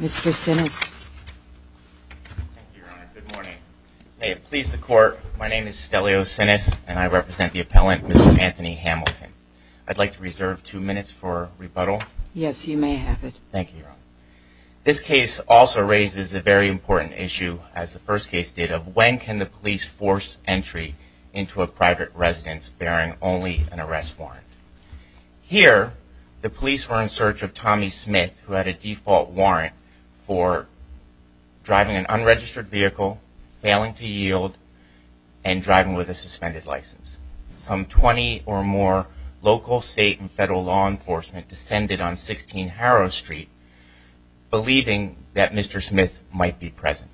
Mr. Simmons Thank you, Your Honor. Good morning. May it I represent the appellant, Mr. Anthony Hamilton. I'd like to reserve two minutes for rebuttal. Yes, you may have it. Thank you, Your Honor. This case also raises a very important issue, as the first case did, of when can the police force entry into a private residence bearing only an arrest warrant. Here, the police were in search of Tommy Smith, who had a default warrant for driving an unregistered vehicle, failing to drive with a suspended license. Some 20 or more local, state, and federal law enforcement descended on 16 Harrow Street, believing that Mr. Smith might be present.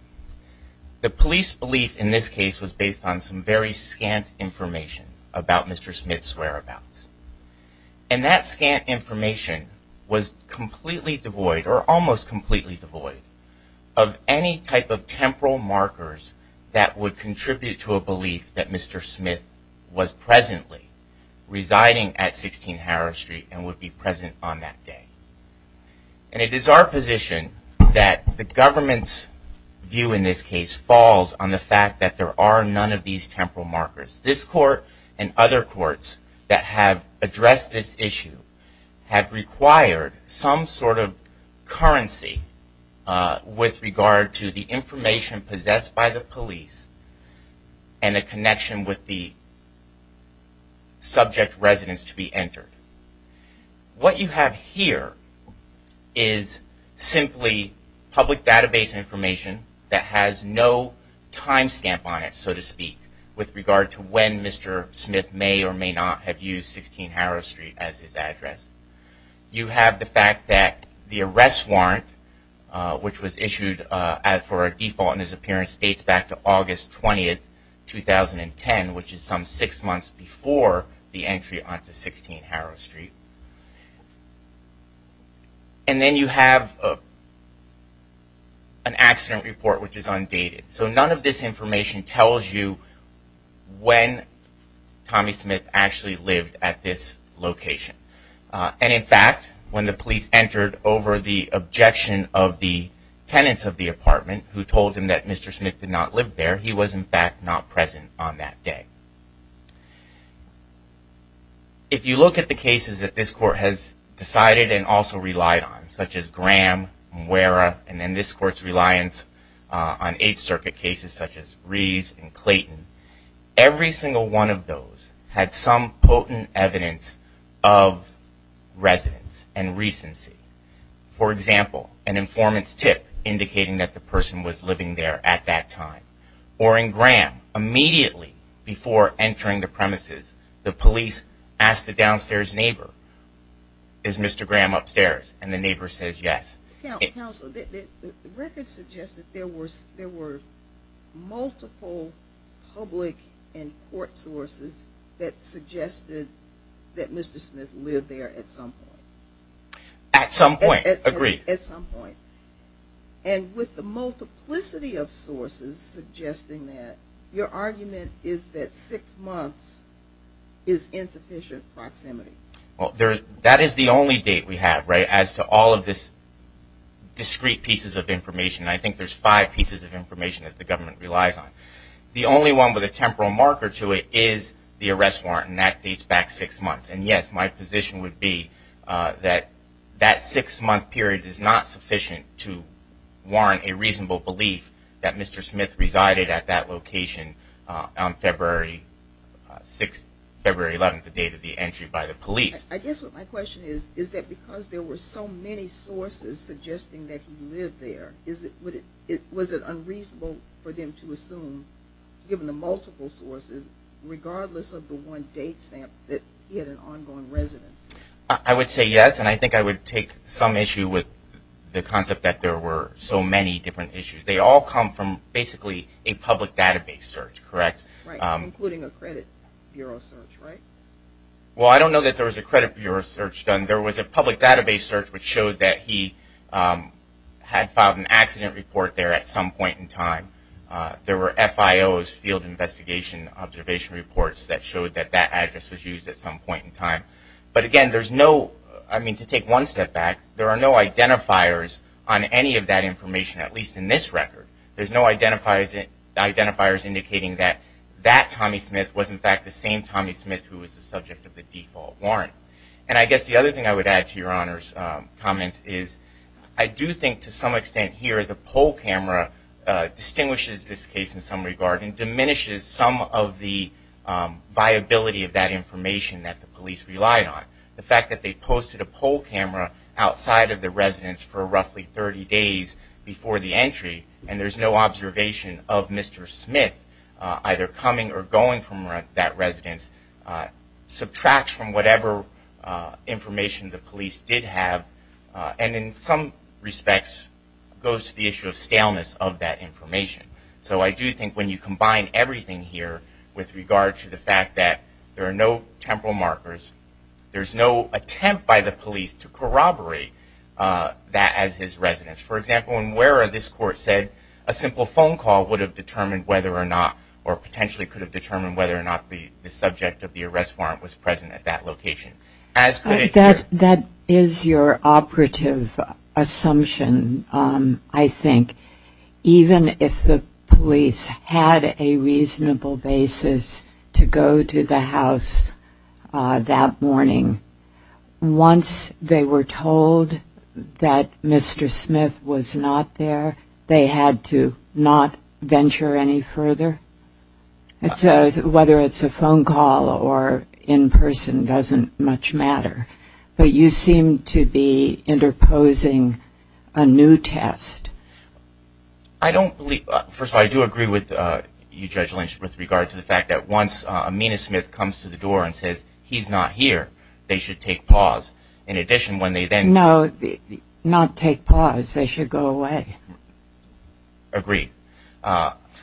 The police belief in this case was based on some very scant information about Mr. Smith's whereabouts. And that scant information was completely devoid, or almost completely devoid, of any type of temporal markers that would contribute to a belief that Mr. Smith was presently residing at 16 Harrow Street and would be present on that day. And it is our position that the government's view in this case falls on the fact that there are none of these temporal markers. This court and other courts that have addressed this have required some sort of currency with regard to the information possessed by the police and the connection with the subject residence to be entered. What you have here is simply public database information that has no time stamp on it, so to speak, with regard to when Mr. Smith may or may not have used 16 Harrow Street as his address. You have the fact that the arrest warrant, which was issued for a default in his appearance, dates back to August 20, 2010, which is some six months before the entry onto 16 Harrow Street. And then you have an accident report, which is undated. So none of this information tells you when Tommy Smith actually lived at this location. And in fact, when the police entered over the objection of the tenants of the apartment, who told him that Mr. Smith did not live there, he was in fact not present on that day. If you look at the cases that this court has decided and also relied on, such as Graham, Muera, and then this court's reliance on Eighth Circuit cases such as Rees and Clayton, every single one of those had some potent evidence of residence and recency. For example, an informant's tip indicating that the person was living there at that time. Or in Graham, immediately before entering the premises, the police ask the downstairs neighbor, is Mr. Graham upstairs? And the neighbor says yes. Counsel, the record suggests that there were multiple public and court sources that suggested that Mr. Smith lived there at some point. At some point, agreed. At some point. And with the multiplicity of sources suggesting that, your argument is that six months is insufficient proximity. Well, that is the only date we have, right, as to all of this discrete pieces of information. I think there's five pieces of information that the government relies on. The only one with a temporal marker to it is the arrest warrant, and that dates back six months. And yes, my position would be that that six month period is not sufficient to warrant a reasonable belief that Mr. Smith resided at that location on February 6th, February 11th, the date of the entry by the police. I guess what my question is, is that because there were so many sources suggesting that he lived there, was it unreasonable for them to assume, given the multiple sources, regardless of the one date stamp that he had an ongoing residence? I would say yes, and I think I would take some issue with the concept that there were so many different issues. They all come from basically a public database search, correct? Right, including a credit bureau search, right? Well, I don't know that there was a credit bureau search done. There was a public database search which showed that he had filed an accident report there at some point in time. There were FIO's, Field Investigation Observation Reports, that showed that that address was used at some point in time. But again, there's no, I mean, to take one step back, there are no identifiers on any of that information, at least in this record. There's no identifiers indicating that that Tommy Smith was in fact the same Tommy Smith who was the subject of the default warrant. And I guess the other thing I would add to your Honor's comments is, I do think to some extent here the poll camera distinguishes this case in some regard and diminishes some of the viability of that information that the police relied on. The fact that they posted a poll camera outside of the residence for roughly 30 days before the entry, and there's no observation of Mr. Smith either coming or going from that residence, subtracts from whatever information the police did have, and in some respects goes to the issue of staleness of that information. So I do think when you combine everything here with regard to the fact that there are no temporal markers, there's no attempt by the police to corroborate that as his residence. For example, in WERA this court said a simple phone call would have determined whether or not, or potentially could have determined whether or not the subject of the arrest warrant was present at that location. That is your operative assumption, I think. Even if the police had a reasonable basis to go to the house that morning, once they were told that Mr. Smith was not there, they had to not venture any further? Whether it's a phone call or in person doesn't much matter. But you seem to be interposing a new test. I don't believe, first of all I do agree with you Judge Lynch with regard to the fact that once Amina Smith comes to the door and says he's not here, they should take pause. In addition when they then- No, not take pause, they should go away. Agreed.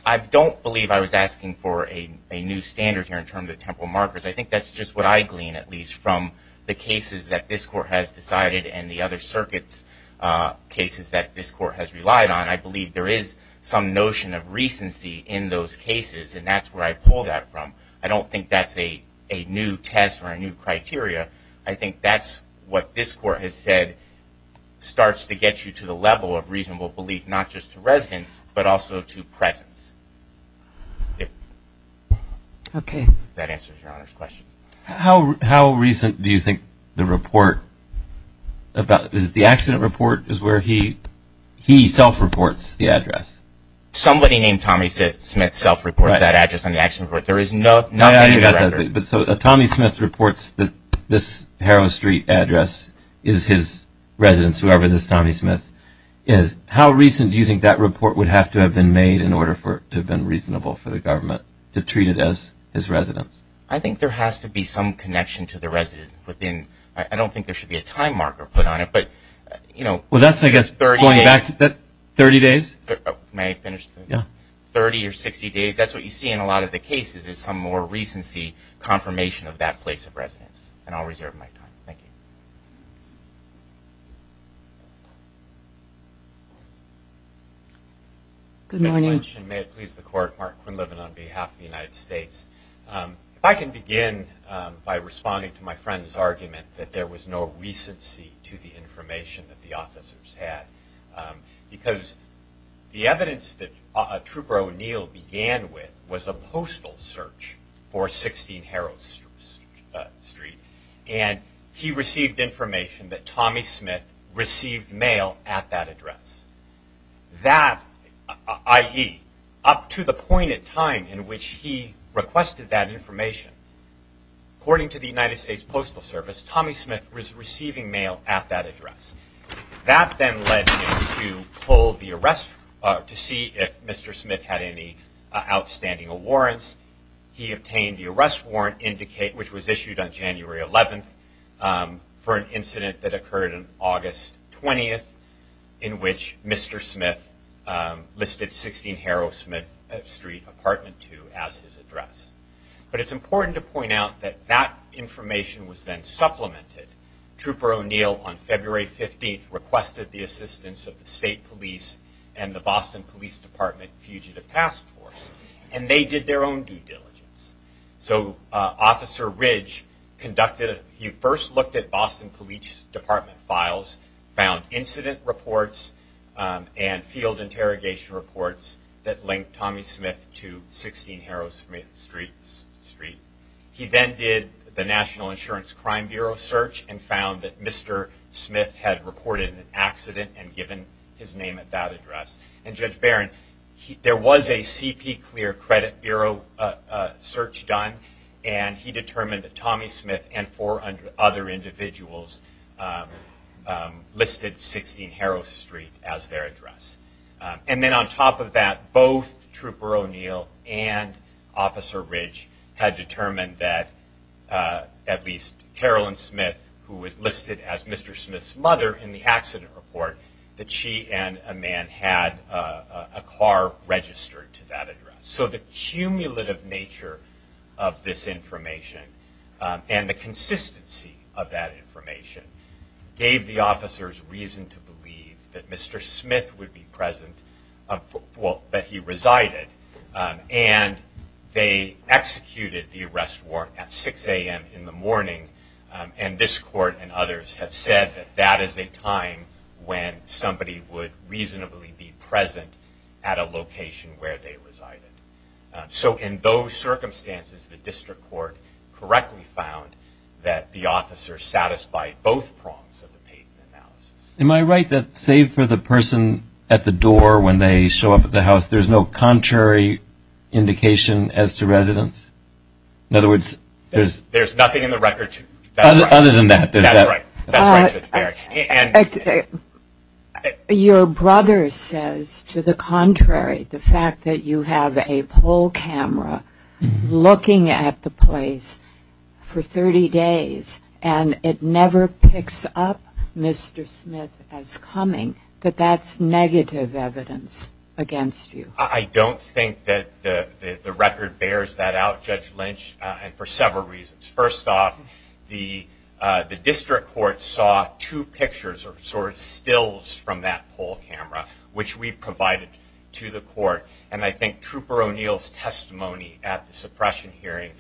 I don't believe I was asking for a new standard here in terms of temporal markers. I think that's just what I glean at least from the cases that this court has decided and the other circuits' cases that this court has relied on. I believe there is some notion of recency in those cases and that's where I pull that from. I don't think that's a new test or a new criteria. I think that's what this court has said starts to get you to the level of reasonable belief, not just to residents but also to presence. Okay. That answers your Honor's question. How recent do you think the report about, is it the accident report is where he self-reports the address? Somebody named Tommy Smith self-reports that address on the accident report. There is nothing in the record. So if Tommy Smith reports that this Harrow Street address is his residence, whoever this Tommy Smith is, how recent do you think that report would have to have been made in order for it to have been reasonable for the government to treat it as his residence? I think there has to be some connection to the residence within, I don't think there should be a time marker put on it, but you know. Well, that's I guess going back to that 30 days. May I finish? Yeah. 30 or 60 days. That's what you see in a lot of the cases is some more recency confirmation of that place of residence. And I'll reserve my time. Thank you. Good morning. May it please the Court, Mark Quinlivan on behalf of the United States. I can begin by responding to my friend's argument that there was no recency to the information that the officers had. Because the evidence that Trooper O'Neill began with was a postal search for 16 Harrow Street. And he received information that Tommy Smith received mail at that address. That, i.e., up to the point in time in which he requested that information, according to the United States Postal Service, Tommy Smith was receiving mail at that address. That then led him to pull the arrest, to see if Mr. Smith had any outstanding warrants. He obtained the arrest warrant, which was issued on January 11th, for an incident that occurred on August 20th, in which Mr. Smith listed 16 Harrow Street, Apartment 2, as his address. But it's important to point out that that information was then supplemented. Trooper O'Neill, on February 15th, requested the assistance of the state police and the Boston Police Department Fugitive Task Force. And they did their own due diligence. So, Officer Ridge conducted, he first looked at Boston Police Department files, found incident reports and field interrogation reports that linked Tommy Smith to 16 Harrow Street. He then did the National Insurance Crime Bureau search and found that Mr. Smith had reported an accident and given his name at that address. And Judge Barron, there was a CP Clear credit bureau search done. And he determined that Tommy Smith and four other individuals listed 16 Harrow Street as their address. And then on top of that, both Trooper O'Neill and Officer Ridge had determined that at least Carolyn Smith, who was listed as Mr. Smith's mother in the accident report, that she and a man had a car registered to that address. So, the cumulative nature of this information and the consistency of that information gave the officers reason to believe that Mr. Smith would be present, well, that he resided. And they executed the arrest warrant at 6 a.m. in the morning. And this court and others have said that that is a time when somebody would reasonably be present at a location where they resided. So, in those circumstances, the district court correctly found that the officer satisfied both prongs of the patent analysis. Am I right that, save for the person at the door when they show up at the house, there's no contrary indication as to residence? In other words, there's... There's nothing in the record to... Other than that. Your brother says, to the contrary, the fact that you have a poll camera looking at the place for 30 days and it never picks up Mr. Smith as coming, that that's negative evidence against you. I don't think that the record bears that out, Judge Lynch, and for several reasons. First off, the district court saw two pictures or sort of stills from that poll camera, which we provided to the court. And I think Trooper O'Neill's testimony at the suppression hearing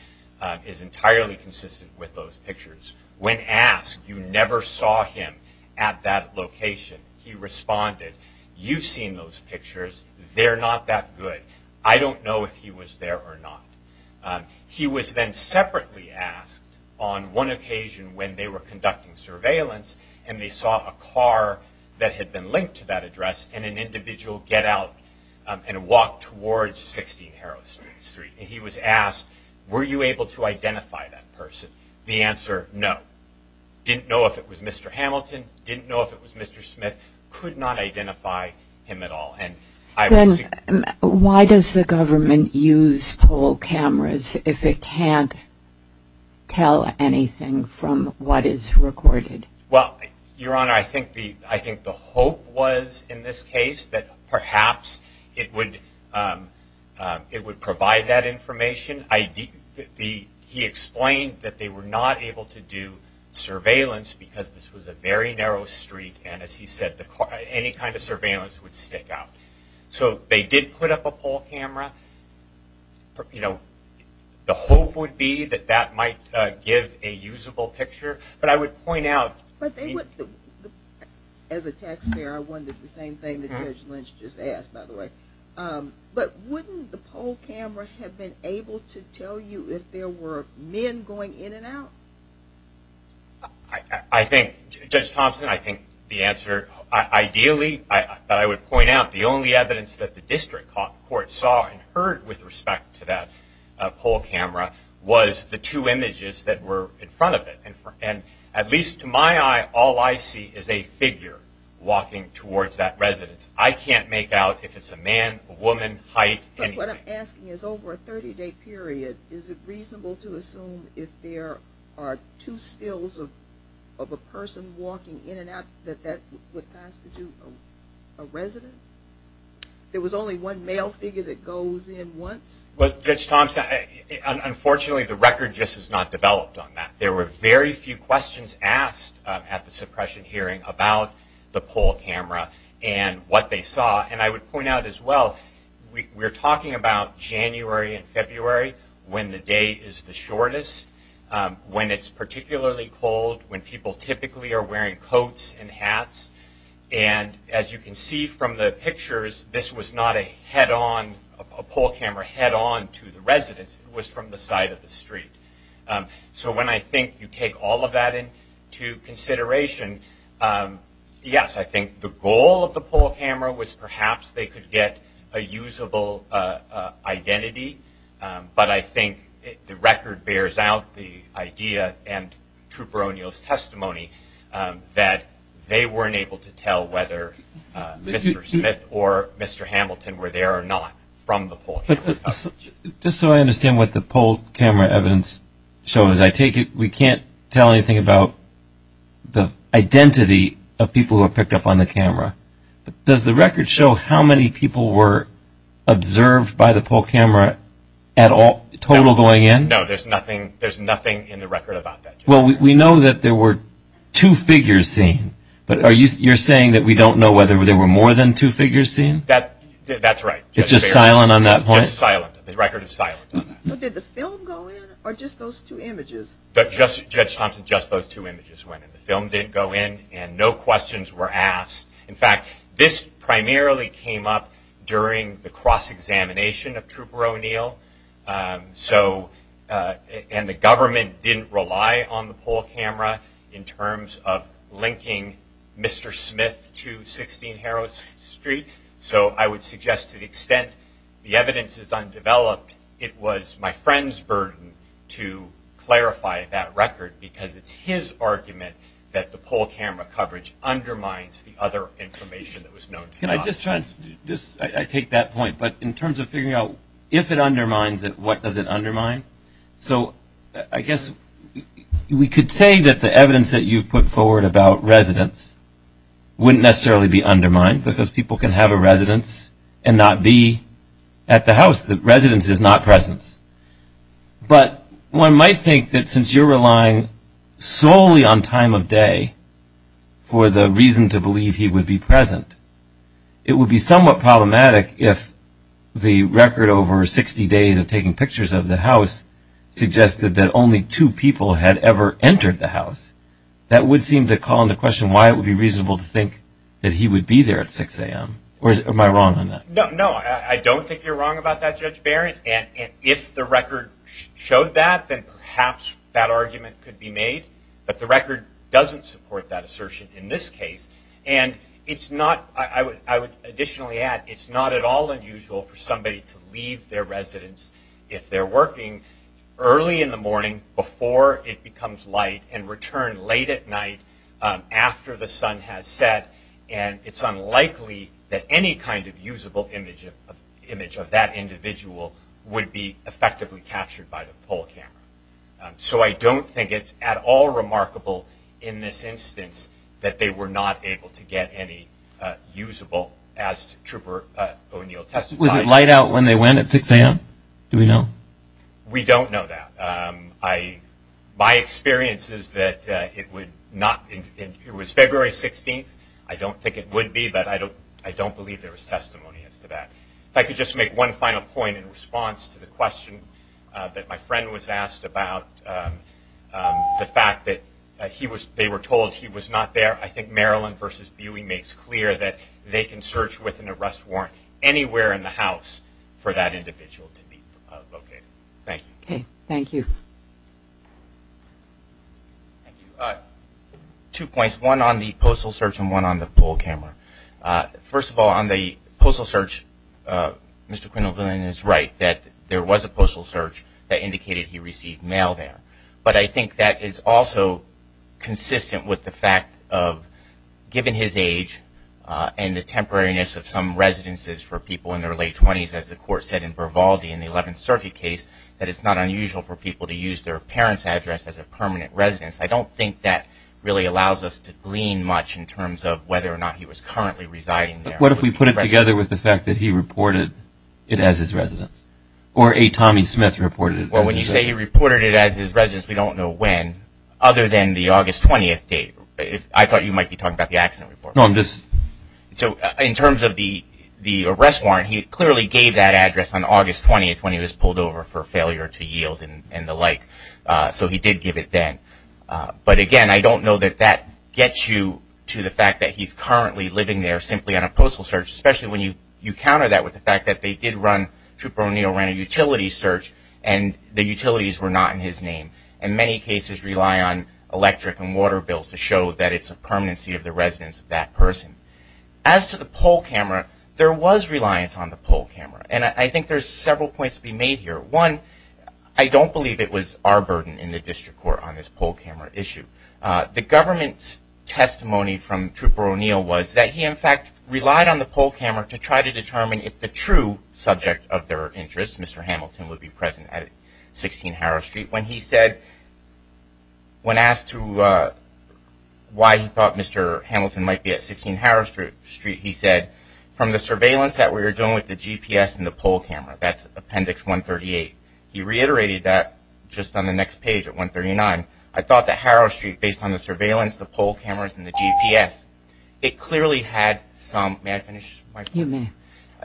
is entirely consistent with those pictures. When asked, you never saw him at that location. He responded, you've seen those pictures. They're not that good. I don't know if he was there or not. He was then separately asked on one occasion when they were conducting surveillance and they saw a car that had been linked to that address and an individual get out and walk towards 16 Harrow Street. He was asked, were you able to identify that person? The answer, no. Didn't know if it was Mr. Hamilton. Didn't know if it was Mr. Smith. Could not identify him at all. Then why does the government use poll cameras if it can't tell anything from what is recorded? Well, Your Honor, I think the hope was in this case that perhaps it would provide that information. He explained that they were not able to do surveillance because this was a very narrow street and as he said, any kind of surveillance would stick out. So they did put up a poll camera. You know, the hope would be that that might give a usable picture. But I would point out... As a taxpayer, I wondered the same thing that Judge Lynch just asked, by the way. But wouldn't the poll camera have been able to tell you if there were men going in and out? I think, Judge Thompson, I think the answer... Ideally, I would point out the only evidence that the district court saw and heard with respect to that poll camera was the two images that were in front of it. And at least to my eye, all I see is a figure walking towards that residence. I can't make out if it's a man, a woman, height, anything. But what I'm asking is over a 30-day period, is it reasonable to assume if there are two stills of a person walking in and out, that that would constitute a residence? There was only one male figure that goes in once? Well, Judge Thompson, unfortunately, the record just has not developed on that. There were very few questions asked at the suppression hearing about the poll camera and what they saw. And I would point out as well, we're talking about January and February. When the day is the shortest, when it's particularly cold, when people typically are wearing coats and hats. And as you can see from the pictures, this was not a head-on, a poll camera head-on to the residence. It was from the side of the street. So when I think you take all of that into consideration, yes, I think the goal of the poll camera was perhaps they could get a usable identity. But I think the record bears out the idea and Trooper O'Neill's testimony that they weren't able to tell whether Mr. Smith or Mr. Hamilton were there or not. Just so I understand what the poll camera evidence shows, I take it we can't tell anything about the identity of people who are picked up on the camera. Does the record show how many people were at all total going in? No, there's nothing in the record about that. Well, we know that there were two figures seen, but you're saying that we don't know whether there were more than two figures seen? That's right. It's just silent on that point? Just silent. The record is silent on that. So did the film go in or just those two images? Judge Thompson, just those two images went in. The film didn't go in and no questions were asked. In fact, this primarily came up during the cross-examination of Trooper O'Neill. And the government didn't rely on the poll camera in terms of linking Mr. Smith to 16 Harrow Street. So I would suggest to the extent the evidence is undeveloped, it was my friend's burden to clarify that record because it's his argument that the poll camera coverage undermines the other information that was known. I take that point, but in terms of figuring out if it undermines it, what does it undermine? So I guess we could say that the evidence that you've put forward about residence wouldn't necessarily be undermined because people can have a residence and not be at the house. The residence is not presence. But one might think that since you're relying solely on time of day for the reason to believe he would be present, it would be somewhat problematic if the record over 60 days of taking pictures of the house suggested that only two people had ever entered the house. That would seem to call into question why it would be reasonable to think that he would be there at 6 AM. Or am I wrong on that? No, I don't think you're wrong about that, Judge Barrett. And if the record showed that, then perhaps that argument could be made. But the record doesn't support that assertion in this case. And I would additionally add, it's not at all unusual for somebody to leave their residence if they're working early in the morning before it becomes light and return late at night after the sun has set. And it's unlikely that any kind of usable image of that individual would be effectively captured by the poll camera. So I don't think it's at all remarkable in this instance that they were not able to get any usable, as Trooper O'Neill testified. Was it light out when they went at 6 AM? Do we know? We don't know that. My experience is that it was February 16th. I don't think it would be, but I don't believe there was testimony as to that. If I could just make one final point in response to the question that my friend was asked about the fact that they were told he was not there, I think Maryland v. Buey makes clear that they can search with an arrest warrant anywhere in the house for that individual to be located. Thank you. Okay. Thank you. Thank you. Two points, one on the postal search and one on the poll camera. First of all, on the postal search, Mr. Quindlen is right, that there was a postal search that indicated he received mail there. But I think that is also consistent with the fact of, given his age and the temporariness of some residences for people in their late 20s, as the court said in Vervalde in the 11th Circuit case, that it's not unusual for people to use their parents' address as a permanent residence. I don't think that really allows us to glean much in terms of whether or not he was currently residing there. What if we put it together with the fact that he reported it as his residence? Or a Tommy Smith reported it? Well, when you say he reported it as his residence, we don't know when, other than the August 20th date. I thought you might be talking about the accident report. No, I'm just... So in terms of the arrest warrant, he clearly gave that address on August 20th when he was pulled over for failure to yield and the like. So he did give it then. But again, I don't know that that gets you to the fact that he's currently living there simply on a postal search, especially when you counter that with the fact Trooper O'Neill ran a utility search and the utilities were not in his name. And many cases rely on electric and water bills to show that it's a permanency of the residence of that person. As to the poll camera, there was reliance on the poll camera. And I think there's several points to be made here. One, I don't believe it was our burden in the District Court on this poll camera issue. The government's testimony from Trooper O'Neill was that he in fact relied on the poll camera to try to determine if the true subject of their interest, Mr. Hamilton, would be present at 16 Harrow Street. When he said... When asked why he thought Mr. Hamilton might be at 16 Harrow Street, he said, from the surveillance that we were doing with the GPS and the poll camera, that's Appendix 138. He reiterated that just on the next page at 139. I thought that Harrow Street, based on the surveillance, the poll cameras and the GPS, it clearly had some... You may.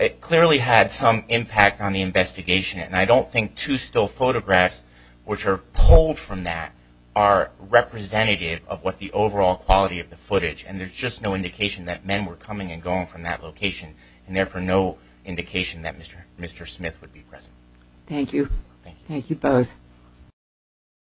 It clearly had some impact on the investigation. And I don't think two still photographs, which are pulled from that, are representative of what the overall quality of the footage. And there's just no indication that men were coming and going from that location. And therefore, no indication that Mr. Smith would be present. Thank you. Thank you both.